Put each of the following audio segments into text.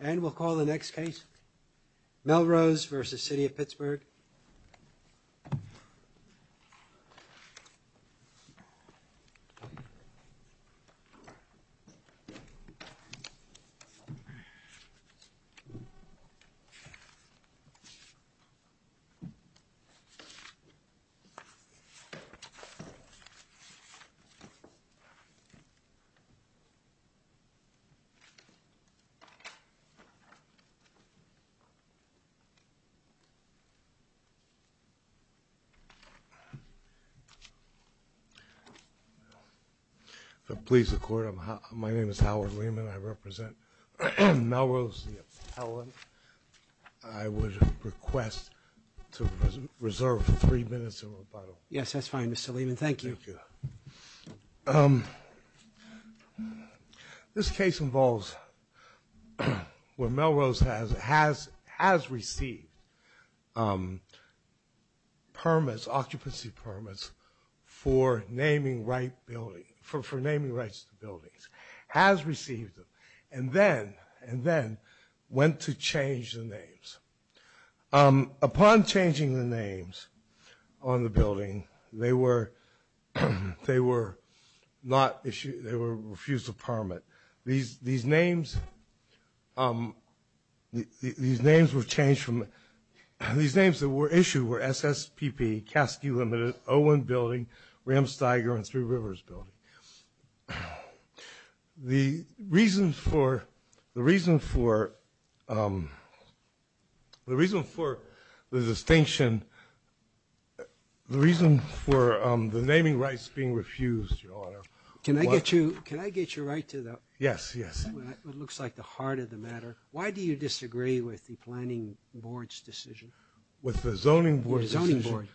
And we'll call the next case, Melrose v. Cityof Pittsburgh. Melrose v. Cityof Pittsburgh. Melrose v. Cityof Pittsburgh. Please record. My name is Howard Lehman. I represent Melrose. I would request to reserve three minutes of rebuttal. Yes, that's fine, Mr. Lehman. Thank you. This case involves where Melrose has received occupancy permits for naming rights to buildings, has received them, and then went to change the names. Upon changing the names on the building, they were refused a permit. These names that were issued were SSPP, Caskey Limited, Owen Building, Ramsteiger, and Three Rivers Building. The reason for the distinction, the reason for the naming rights being refused, Your Honor, Can I get your right to that? Yes, yes. It looks like the heart of the matter. Why do you disagree with the Planning Board's decision? With the Zoning Board's decision? With the Zoning Board.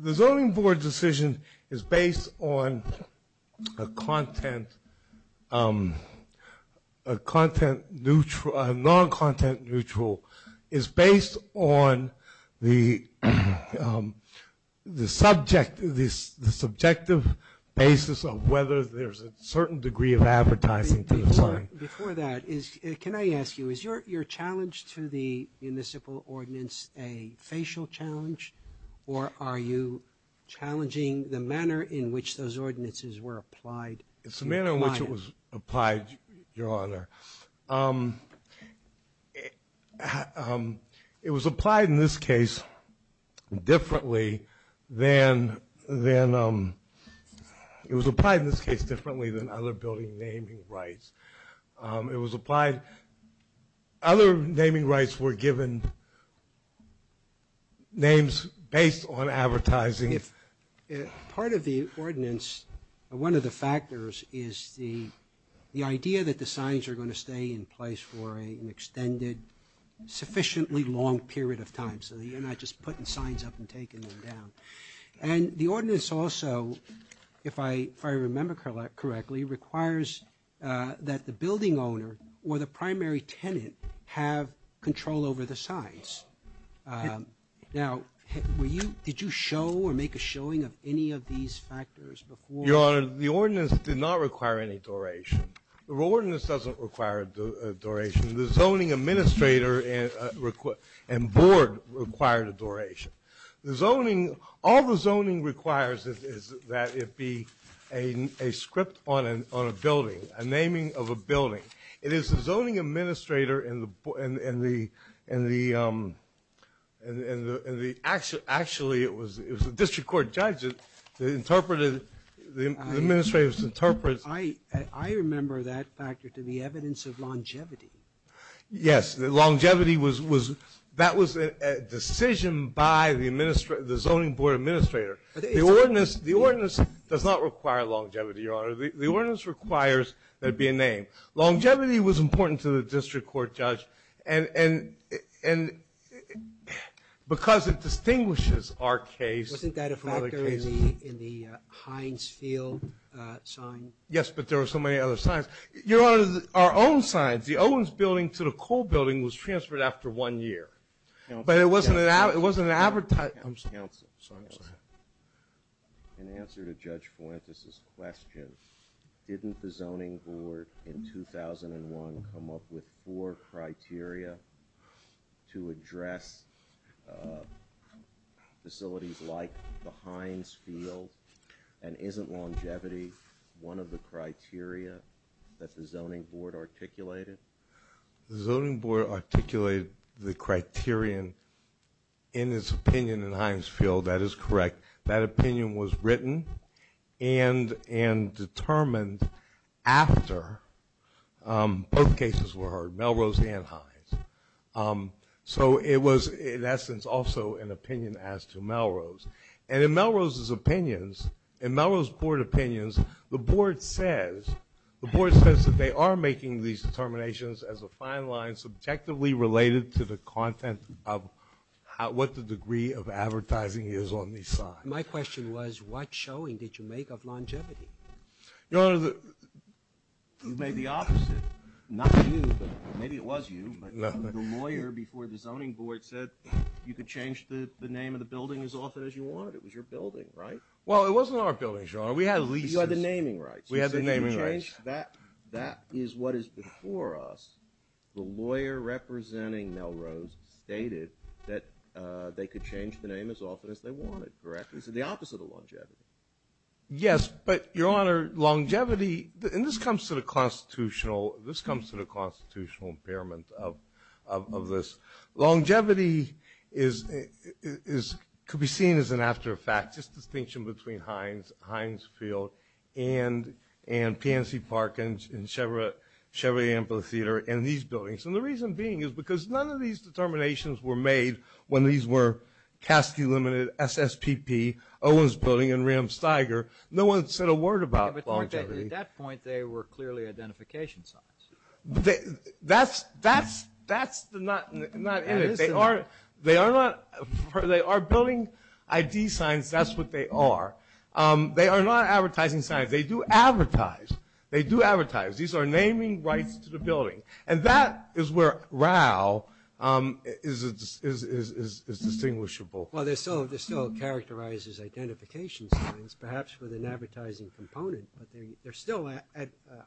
The Zoning Board's decision is based on a content, a content neutral, a non-content neutral, is based on the subject, the subjective basis of whether there's a certain degree of advertising to the zoning. Before that, can I ask you, is your challenge to the municipal ordinance a facial challenge or are you challenging the manner in which those ordinances were applied? It's the manner in which it was applied, Your Honor. It was applied in this case differently than other building naming rights. It was applied, other naming rights were given names based on advertising. Part of the ordinance, one of the factors, is the idea that the signs are going to stay in place for an extended, sufficiently long period of time so that you're not just putting signs up and taking them down. The ordinance also, if I remember correctly, requires that the building owner or the primary tenant have control over the signs. Now, did you show or make a showing of any of these factors before? Your Honor, the ordinance did not require any duration. The ordinance doesn't require a duration. The Zoning Administrator and Board required a duration. All the zoning requires is that it be a script on a building, a naming of a building. It is the Zoning Administrator and the, actually, it was the District Court judge that interpreted the Administrator's interpretation. I remember that factor to be evidence of longevity. Yes, longevity was, that was a decision by the Zoning Board Administrator. The ordinance does not require longevity, Your Honor. The ordinance requires that it be a name. Longevity was important to the District Court judge. And because it distinguishes our case from other cases. Wasn't that a factor in the Heinz Field sign? Yes, but there were so many other signs. Your Honor, our own signs. The Owens Building to the Cole Building was transferred after one year. But it wasn't an advertise, I'm sorry. Counsel, go ahead. In answer to Judge Fuentes' question, didn't the Zoning Board in 2001 come up with four criteria to address facilities like the Heinz Field? And isn't longevity one of the criteria that the Zoning Board articulated? The Zoning Board articulated the criterion in its opinion in Heinz Field. That is correct. That opinion was written and determined after both cases were heard, Melrose and Heinz. So it was, in essence, also an opinion as to Melrose. And in Melrose's opinions, in Melrose Board opinions, the Board says that they are making these determinations as a fine line subjectively related to the content of what the degree of advertising is on these signs. My question was what showing did you make of longevity? Your Honor, you made the opposite. Not you, but maybe it was you. The lawyer before the Zoning Board said you could change the name of the building as often as you wanted. It was your building, right? Well, it wasn't our building, Your Honor. We had leases. You had the naming rights. We had the naming rights. That is what is before us. The lawyer representing Melrose stated that they could change the name as often as they wanted, correct? It's the opposite of longevity. Yes, but, Your Honor, longevity, and this comes to the constitutional impairment of this. Longevity could be seen as an aftereffect, just a distinction between Heinz Field and PNC Park and Chevrolet Amphitheater and these buildings. And the reason being is because none of these determinations were made when these were Cassidy Limited, SSPP, Owens Building, and Ram Steiger. No one said a word about longevity. At that point, they were clearly identification signs. That's not it. They are building ID signs. That's what they are. They are not advertising signs. They do advertise. They do advertise. These are naming rights to the building. And that is where RAU is distinguishable. Well, there still characterizes identification signs, perhaps with an advertising component, but they're still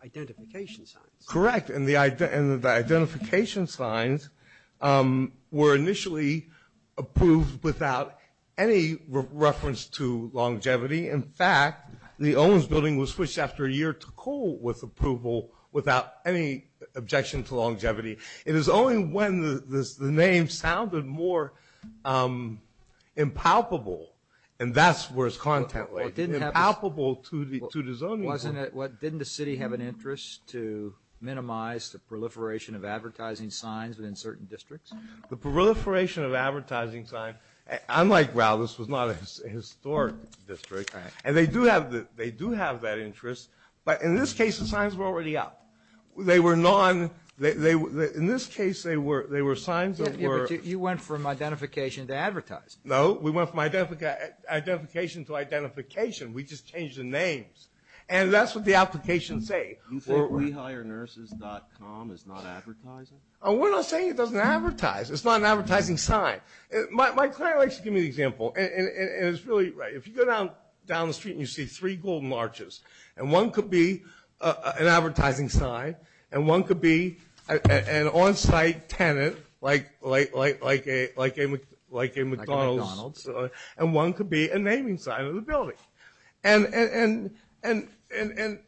identification signs. Correct, and the identification signs were initially approved without any reference to longevity. In fact, the Owens Building was switched after a year to Cole with approval without any objection to longevity. It is only when the name sounded more impalpable, and that's where its content was, impalpable to the zoning board. Didn't the city have an interest to minimize the proliferation of advertising signs within certain districts? The proliferation of advertising signs, unlike RAU, this was not a historic district, and they do have that interest, but in this case, the signs were already up. They were non – in this case, they were signs that were – You went from identification to advertise. No, we went from identification to identification. We just changed the names, and that's what the applications say. You think WeHireNurses.com is not advertising? We're not saying it doesn't advertise. It's not an advertising sign. My client likes to give me an example, and it's really – if you go down the street and you see three golden arches, and one could be an advertising sign, and one could be an on-site tenant, like a McDonald's, and one could be a naming sign of the building. And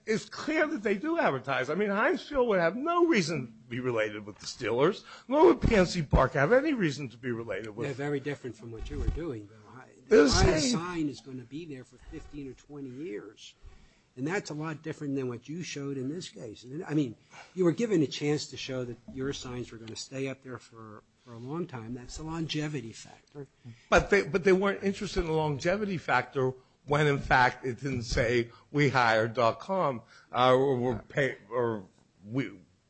it's clear that they do advertise. I mean, Hinesville would have no reason to be related with the Steelers, nor would PNC Park have any reason to be related with – They're very different from what you were doing. The sign is going to be there for 15 or 20 years, and that's a lot different than what you showed in this case. I mean, you were given a chance to show that your signs were going to stay up there for a long time. That's a longevity factor. But they weren't interested in the longevity factor when, in fact, it didn't say WeHire.com or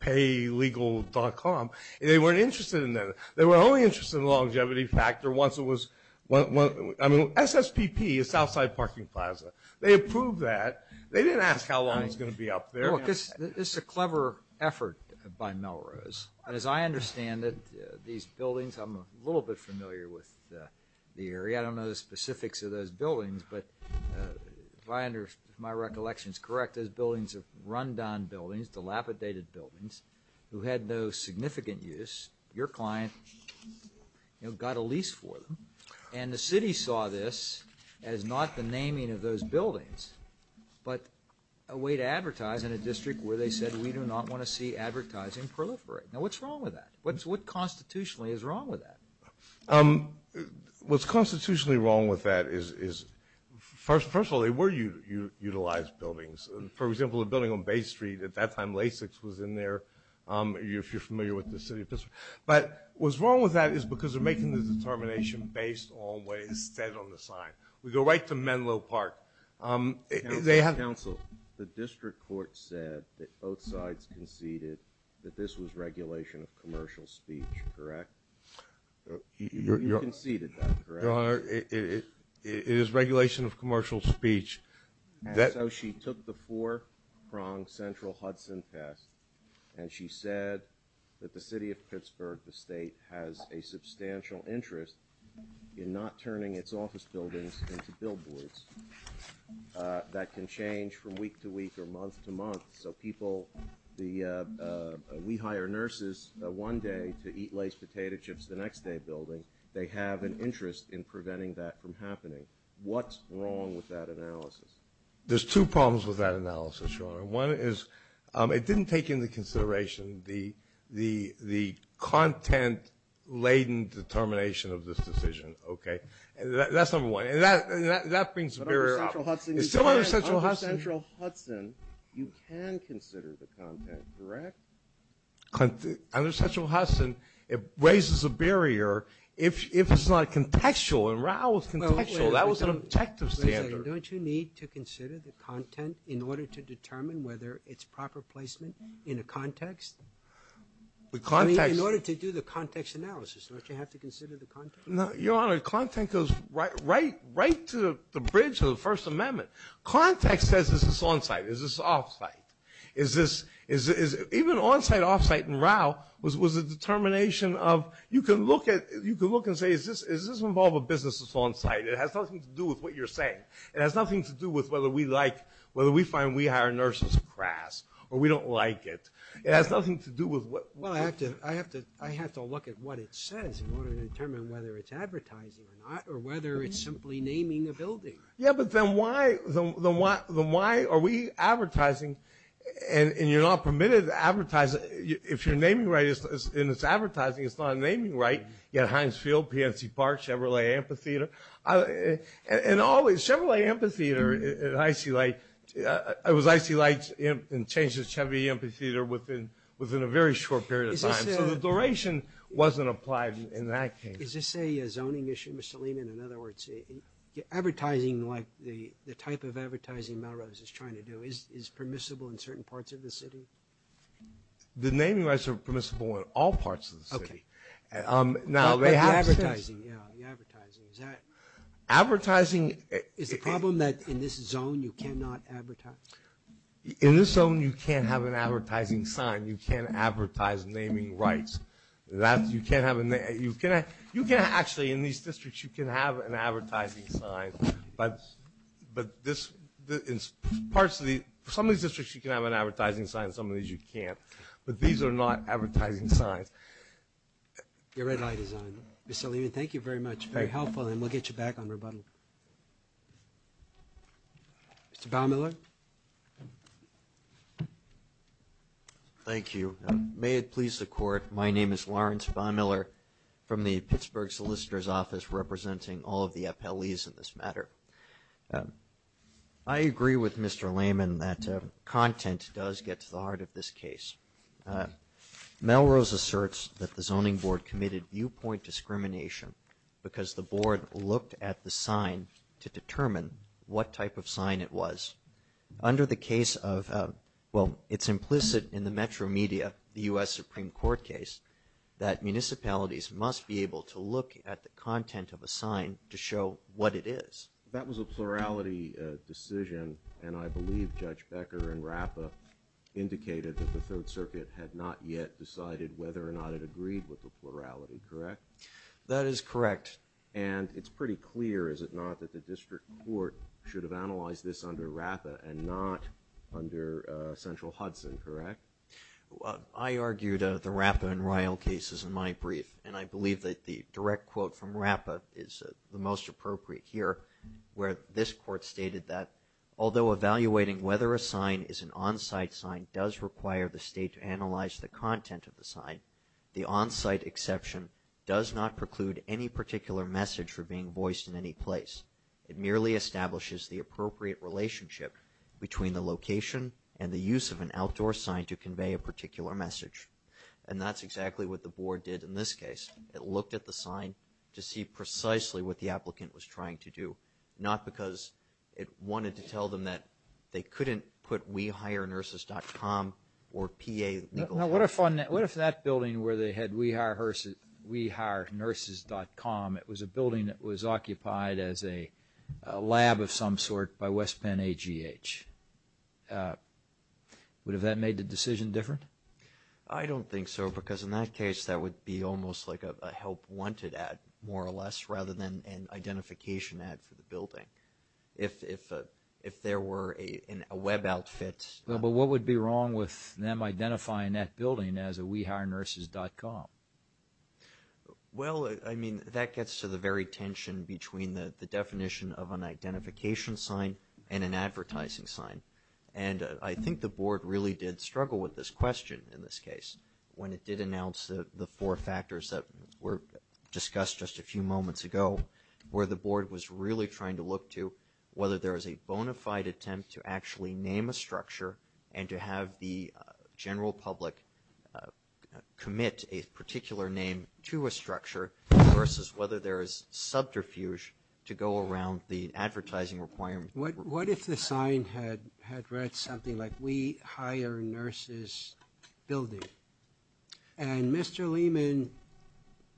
PayLegal.com. They weren't interested in that. They were only interested in the longevity factor once it was – I mean, SSPP is Southside Parking Plaza. They approved that. They didn't ask how long it was going to be up there. Look, this is a clever effort by Melrose. As I understand it, these buildings – I'm a little bit familiar with the area. I don't know the specifics of those buildings, but if my recollection is correct, those buildings are rundown buildings, dilapidated buildings who had no significant use. Your client, you know, got a lease for them, and the city saw this as not the naming of those buildings but a way to advertise in a district where they said, We do not want to see advertising proliferate. Now, what's wrong with that? What constitutionally is wrong with that? What's constitutionally wrong with that is, first of all, they were utilized buildings. For example, the building on Bay Street, at that time Lasix was in there, if you're familiar with the city of Pittsburgh. But what's wrong with that is because they're making the determination based on what is said on the sign. We go right to Menlo Park. Counsel, the district court said that both sides conceded that this was regulation of commercial speech, correct? You conceded that, correct? Your Honor, it is regulation of commercial speech. So she took the four-pronged Central Hudson test, and she said that the city of Pittsburgh, the state, has a substantial interest in not turning its office buildings into billboards that can change from week to week or month to month. So people, we hire nurses one day to eat laced potato chips the next day building. They have an interest in preventing that from happening. What's wrong with that analysis? There's two problems with that analysis, Your Honor. One is it didn't take into consideration the content laden determination of this decision, okay? That's number one. And that brings the barrier out. Under Central Hudson, you can consider the content, correct? Under Central Hudson, it raises a barrier if it's not contextual. And Raul's contextual. That was an objective standard. Don't you need to consider the content in order to determine whether it's proper placement in a context? In order to do the context analysis, don't you have to consider the context? Your Honor, content goes right to the bridge of the First Amendment. Context says this is on-site, this is off-site. Even on-site, off-site in Raul was a determination of you can look and say, does this involve a business that's on-site? It has nothing to do with what you're saying. It has nothing to do with whether we like, whether we find we hire nurses crass or we don't like it. It has nothing to do with what we like. Well, I have to look at what it says in order to determine whether it's advertising or not or whether it's simply naming a building. Yeah, but then why are we advertising and you're not permitted to advertise? If your naming right is in this advertising, it's not a naming right. You have Heinz Field, PNC Park, Chevrolet Amphitheater. And always, Chevrolet Amphitheater at Icy Light, it was Icy Light and changed to Chevy Amphitheater within a very short period of time. So the duration wasn't applied in that case. Is this a zoning issue, Mr. Lehman? In other words, advertising like the type of advertising Melrose is trying to do is permissible in certain parts of the city? The naming rights are permissible in all parts of the city. Okay. But the advertising, yeah, the advertising. Advertising. Is the problem that in this zone you cannot advertise? In this zone, you can't have an advertising sign. You can't advertise naming rights. You can't have a name. You can actually in these districts, you can have an advertising sign, but in some of these districts, you can have an advertising sign. In some of these, you can't. But these are not advertising signs. Your red light is on. Mr. Lehman, thank you very much. Very helpful, and we'll get you back on rebuttal. Mr. Baumiller? Thank you. May it please the Court, my name is Lawrence Baumiller from the Pittsburgh Solicitor's Office representing all of the FLEs in this matter. I agree with Mr. Lehman that content does get to the heart of this case. Melrose asserts that the zoning board committed viewpoint discrimination because the board looked at the sign to determine what type of sign it was. Under the case of, well, it's implicit in the metro media, the U.S. Supreme Court case, that municipalities must be able to look at the content of a sign to show what it is. That was a plurality decision, and I believe Judge Becker in Rapa indicated that the Third Circuit had not yet decided whether or not it agreed with the plurality, correct? That is correct. And it's pretty clear, is it not, that the district court should have analyzed this under Rapa and not under Central Hudson, correct? I argued the Rapa and Ryle cases in my brief, and I believe that the direct quote from Rapa is the most appropriate here, where this court stated that, although evaluating whether a sign is an on-site sign does require the state to analyze the content of the sign, the on-site exception does not preclude any particular message for being voiced in any place. It merely establishes the appropriate relationship between the location and the use of an outdoor sign to convey a particular message. And that's exactly what the board did in this case. It looked at the sign to see precisely what the applicant was trying to do, not because it wanted to tell them that they couldn't put WeHireNurses.com or PA legally. Now, what if that building where they had WeHireNurses.com, it was a building that was occupied as a lab of some sort by West Penn AGH? Would that have made the decision different? I don't think so, because in that case that would be almost like a help wanted ad, more or less, rather than an identification ad for the building. If there were a web outfit. Well, but what would be wrong with them identifying that building as a WeHireNurses.com? Well, I mean, that gets to the very tension between the definition of an identification sign and an advertising sign. And I think the board really did struggle with this question in this case when it did announce the four factors that were discussed just a few moments ago where the board was really trying to look to whether there is a bona fide attempt to actually name a structure and to have the general public commit a particular name to a structure versus whether there is subterfuge to go around the advertising requirement. What if the sign had read something like We Hire Nurses Building? And Mr. Lehman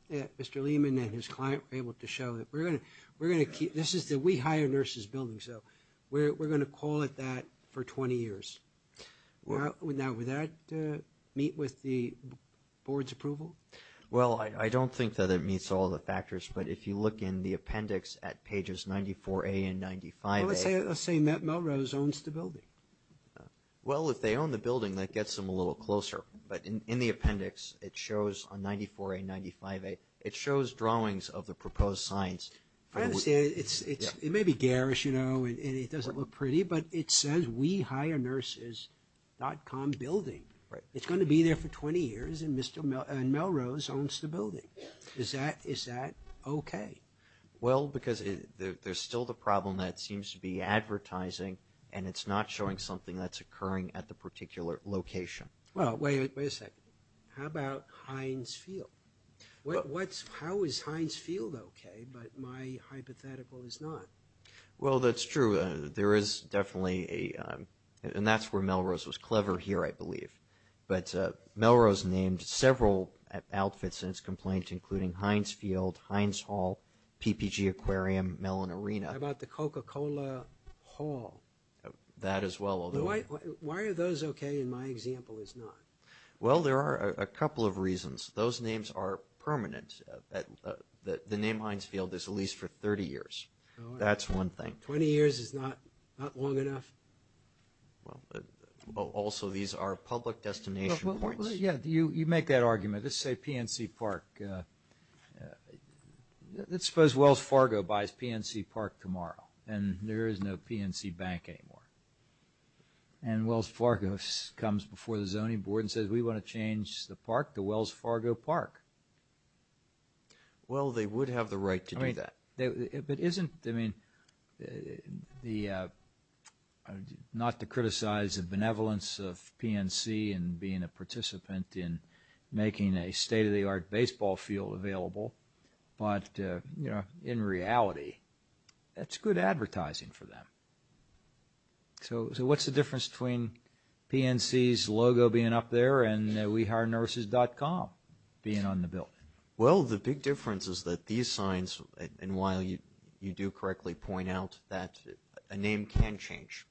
and his client were able to show that we're going to keep this is the We Hire Nurses Building, so we're going to call it that for 20 years. Now, would that meet with the board's approval? Well, I don't think that it meets all the factors, but if you look in the appendix at pages 94A and 95A. Well, let's say Melrose owns the building. Well, if they own the building, that gets them a little closer. But in the appendix, it shows on 94A and 95A, it shows drawings of the proposed signs. It may be garish, you know, and it doesn't look pretty, but it says WeHireNurses.com Building. It's going to be there for 20 years, and Melrose owns the building. Is that okay? Well, because there's still the problem that it seems to be advertising, and it's not showing something that's occurring at the particular location. Well, wait a second. How about Heinz Field? How is Heinz Field okay, but my hypothetical is not? Well, that's true. There is definitely a, and that's where Melrose was clever here, I believe. But Melrose named several outfits in its complaint, including Heinz Field, Heinz Hall, PPG Aquarium, Mellon Arena. How about the Coca-Cola Hall? That as well. Why are those okay and my example is not? Well, there are a couple of reasons. Those names are permanent. The name Heinz Field is at least for 30 years. That's one thing. 20 years is not long enough? Well, also these are public destination points. Yeah, you make that argument. Let's say PNC Park. Let's suppose Wells Fargo buys PNC Park tomorrow, and there is no PNC Bank anymore. And Wells Fargo comes before the zoning board and says, we want to change the park to Wells Fargo Park. Well, they would have the right to do that. But isn't, I mean, not to criticize the benevolence of PNC in being a participant in making a state-of-the-art baseball field available, but, you know, in reality, that's good advertising for them. So what's the difference between PNC's logo being up there and WeHireNurses.com being on the building? Well, the big difference is that these signs, and while you do correctly point out that a name can change,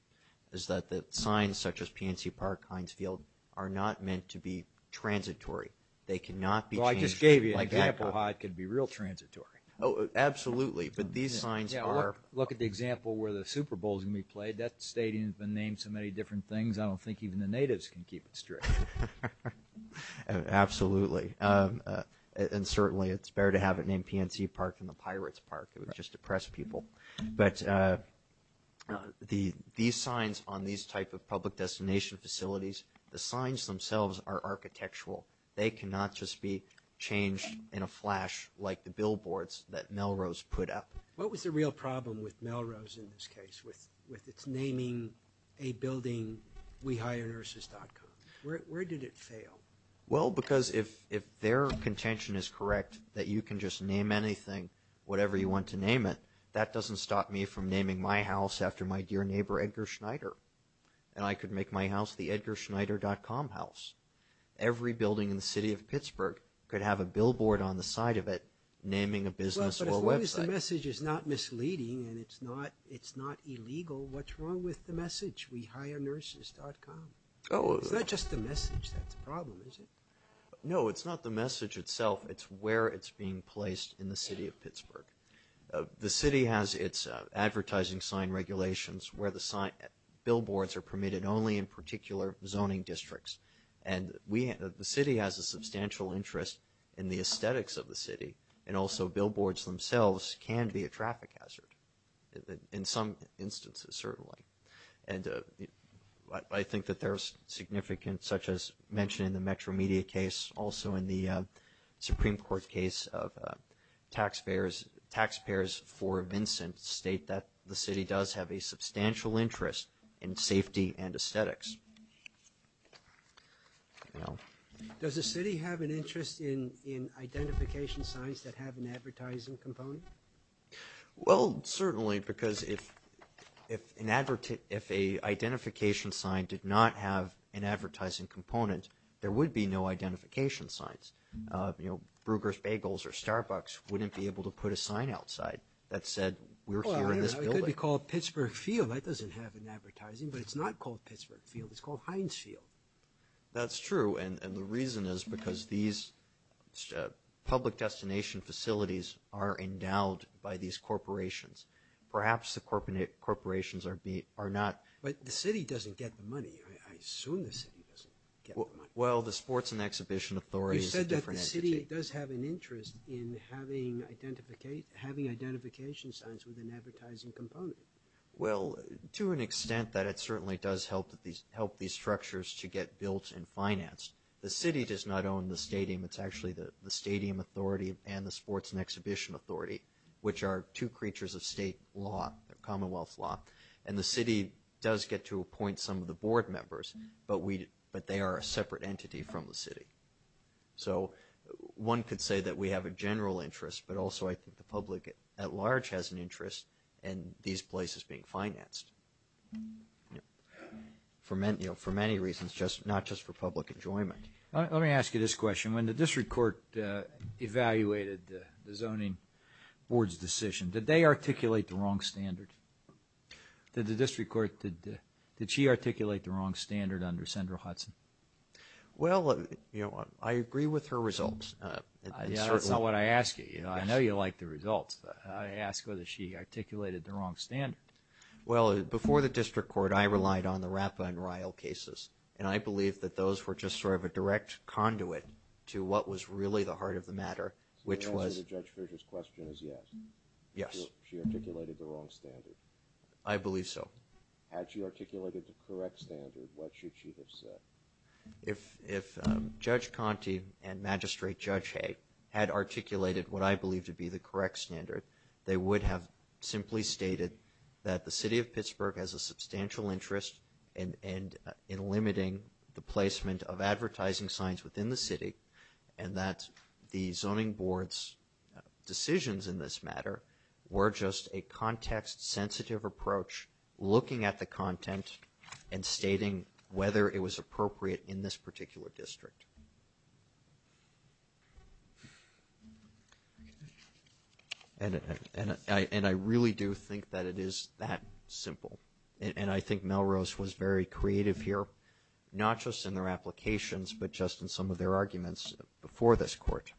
is that the signs such as PNC Park, Heinz Field, are not meant to be transitory. They cannot be changed. Well, I just gave you an example how it could be real transitory. Oh, absolutely. But these signs are. Look at the example where the Super Bowl is going to be played. That stadium has been named so many different things, I don't think even the natives can keep it straight. Absolutely. And certainly it's better to have it named PNC Park than the Pirates Park. It would just depress people. But these signs on these type of public destination facilities, the signs themselves are architectural. They cannot just be changed in a flash like the billboards that Melrose put up. What was the real problem with Melrose in this case, with its naming a building WeHireNurses.com? Where did it fail? Well, because if their contention is correct, that you can just name anything, whatever you want to name it, that doesn't stop me from naming my house after my dear neighbor Edgar Schneider, and I could make my house the EdgarSchneider.com house. Every building in the city of Pittsburgh could have a billboard on the side of it naming a business or website. Well, but as long as the message is not misleading and it's not illegal, what's wrong with the message WeHireNurses.com? It's not just the message that's the problem, is it? No, it's not the message itself. It's where it's being placed in the city of Pittsburgh. The city has its advertising sign regulations where the billboards are permitted only in particular zoning districts. And the city has a substantial interest in the aesthetics of the city, and also billboards themselves can be a traffic hazard in some instances, certainly. And I think that there's significance, such as mentioned in the Metro Media case, also in the Supreme Court case of taxpayers for Vincent, state that the city does have a substantial interest in safety and aesthetics. Does the city have an interest in identification signs that have an advertising component? Well, certainly, because if an identification sign did not have an advertising component, there would be no identification signs. Brugger's Bagels or Starbucks wouldn't be able to put a sign outside that said, we're here in this building. It could be called Pittsburgh Field. That doesn't have an advertising, but it's not called Pittsburgh Field. It's called Heinz Field. That's true, and the reason is because these public destination facilities are endowed by these corporations. Perhaps the corporations are not. But the city doesn't get the money. I assume the city doesn't get the money. Well, the Sports and Exhibition Authority is a different entity. You said that the city does have an interest in having identification signs with an advertising component. Well, to an extent that it certainly does help these structures to get built and financed. The city does not own the stadium. It's actually the Stadium Authority and the Sports and Exhibition Authority, which are two creatures of state law, Commonwealth law. And the city does get to appoint some of the board members, but they are a separate entity from the city. So one could say that we have a general interest, but also I think the public at large has an interest in these places being financed, for many reasons, not just for public enjoyment. Let me ask you this question. When the district court evaluated the zoning board's decision, did they articulate the wrong standard? Did the district court, did she articulate the wrong standard under Sandra Hudson? Well, you know, I agree with her results. Yeah, that's not what I asked you. I know you like the results. I asked whether she articulated the wrong standard. Well, before the district court, I relied on the Rapa and Ryle cases, and I believe that those were just sort of a direct conduit to what was really the heart of the matter, which was. So the answer to Judge Fisher's question is yes. Yes. She articulated the wrong standard. I believe so. Had she articulated the correct standard, what should she have said? If Judge Conte and Magistrate Judge Hay had articulated what I believe to be the correct standard, they would have simply stated that the city of Pittsburgh has a problem with limiting the placement of advertising signs within the city, and that the zoning board's decisions in this matter were just a context-sensitive approach looking at the content and stating whether it was appropriate in this particular district. And I really do think that it is that simple. And I think Melrose was very creative here, not just in their applications, but just in some of their arguments before this court.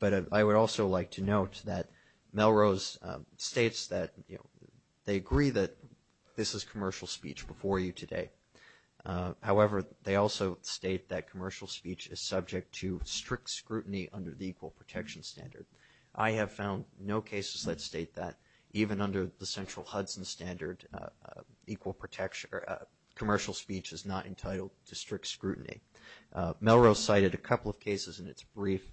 But I would also like to note that Melrose states that, you know, they agree that this is commercial speech before you today. However, they also state that commercial speech is subject to strict scrutiny under the Equal Protection Standard. I have found no cases that state that, even under the central Hudson standard, commercial speech is not entitled to strict scrutiny. Melrose cited a couple of cases in its brief,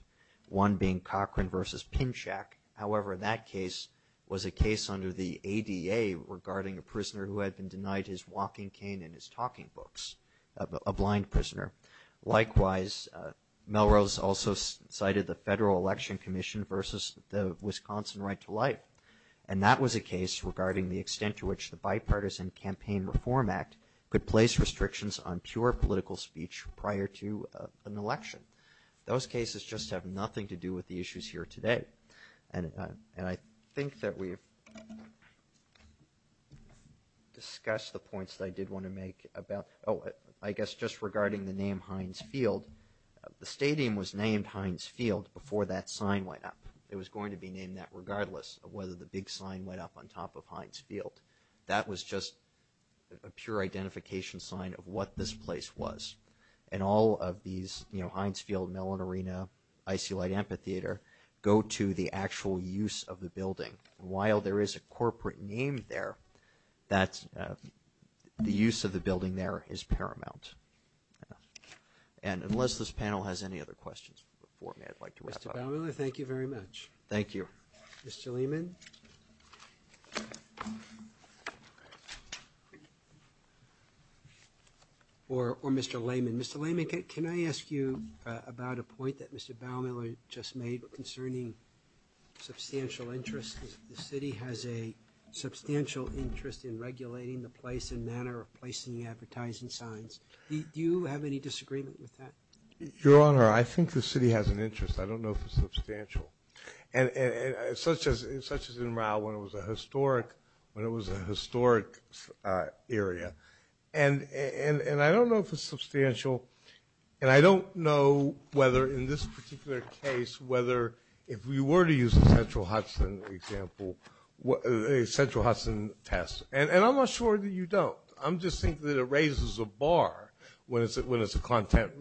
one being Cochran v. Pinchak. However, that case was a case under the ADA regarding a prisoner who had been denied his walking cane and his talking books, a blind prisoner. Likewise, Melrose also cited the Federal Election Commission versus the Wisconsin Right to Life. And that was a case regarding the extent to which the Bipartisan Campaign Reform Act could place restrictions on pure political speech prior to an election. Those cases just have nothing to do with the issues here today. And I think that we've discussed the points that I did want to make about, oh, I guess just regarding the name Heinz Field. The stadium was named Heinz Field before that sign went up. It was going to be named that regardless of whether the big sign went up on top of Heinz Field. That was just a pure identification sign of what this place was. And all of these, you know, Heinz Field, Mellon Arena, Icy Light Amphitheater, go to the actual use of the building. And while there is a corporate name there, the use of the building there is paramount. And unless this panel has any other questions before me, I'd like to wrap up. Mr. Baumiller, thank you very much. Thank you. Mr. Lehman. Or Mr. Lehman. Mr. Lehman, can I ask you about a point that Mr. Baumiller just made concerning substantial interest. The city has a substantial interest in regulating the place and manner of placing advertising signs. Do you have any disagreement with that? Your Honor, I think the city has an interest. I don't know if it's substantial. And such as in Rao when it was a historic area. And I don't know if it's substantial. And I don't know whether in this particular case, whether if we were to use a Central Hudson example, a Central Hudson test. And I'm not sure that you don't. I'm just thinking that it raises a bar when it's a content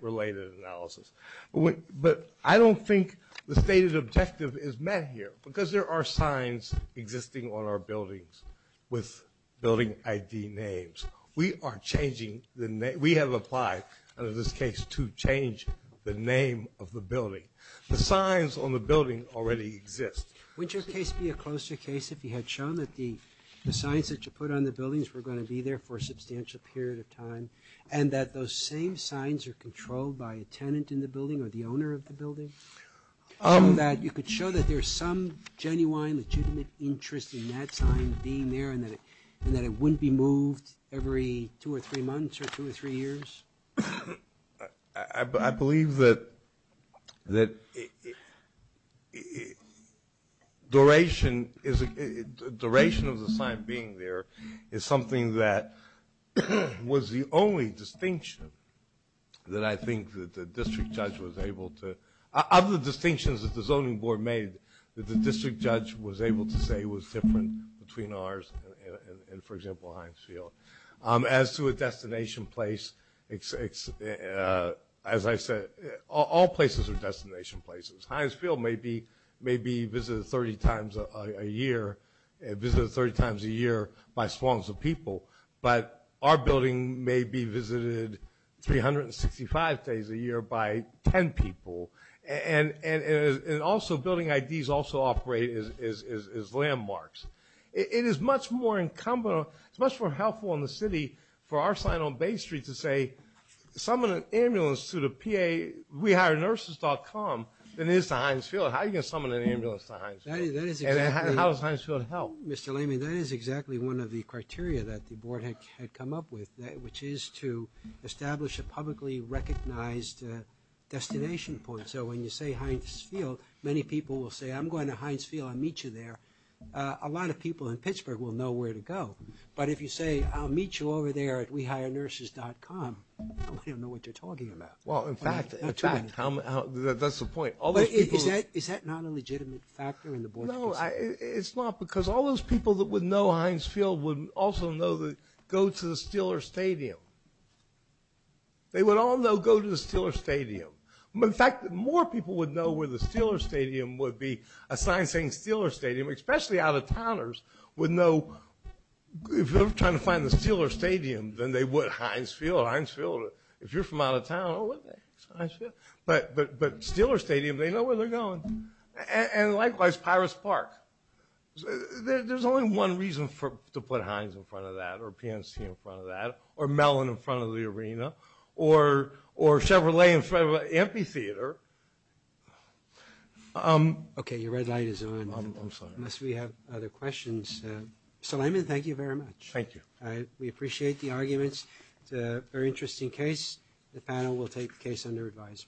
related analysis. But I don't think the stated objective is met here. Because there are signs existing on our buildings with building ID names. We are changing the name. We have applied under this case to change the name of the building. The signs on the building already exist. Would your case be a closer case if you had shown that the signs that you put on the buildings were going to be there for a substantial period of time and that those same signs are controlled by a tenant in the building or the owner of the building? That you could show that there's some genuine, legitimate interest in that sign being there and that it wouldn't be moved every two or three months or two or three years? I believe that duration of the sign being there is something that was the only distinction that I think that the district judge was able to, of the distinctions that the zoning board made, that the district judge was able to say was different between ours and, for example, Heinz Field. As to a destination place, as I said, all places are destination places. Heinz Field may be visited 30 times a year by swarms of people, but our building may be visited 365 days a year by 10 people. And also building IDs also operate as landmarks. It is much more helpful in the city for our sign on Bay Street to say, summon an ambulance to the P.A. WeHireNurses.com than it is to Heinz Field. How are you going to summon an ambulance to Heinz Field? And how does Heinz Field help? Mr. Lamy, that is exactly one of the criteria that the board had come up with, which is to establish a publicly recognized destination point. So when you say Heinz Field, many people will say, I'm going to Heinz Field, I'll meet you there. A lot of people in Pittsburgh will know where to go. But if you say, I'll meet you over there at WeHireNurses.com, nobody will know what they're talking about. Well, in fact, that's the point. Is that not a legitimate factor in the board's decision? No, it's not, because all those people that would know Heinz Field would also know to go to the Steeler Stadium. They would all know go to the Steeler Stadium. In fact, more people would know where the Steeler Stadium would be, a sign saying Steeler Stadium, especially out-of-towners, would know. If they're trying to find the Steeler Stadium, then they would, Heinz Field, Heinz Field. If you're from out of town, oh, what the heck, it's Heinz Field. But Steeler Stadium, they know where they're going. And likewise, Pirates Park. There's only one reason to put Heinz in front of that or PNC in front of that or Mellon in front of the arena or Chevrolet in front of an amphitheater. Okay, your red light is on. I'm sorry. Unless we have other questions. Mr. Lehman, thank you very much. Thank you. We appreciate the arguments. It's a very interesting case. The panel will take the case under advisement.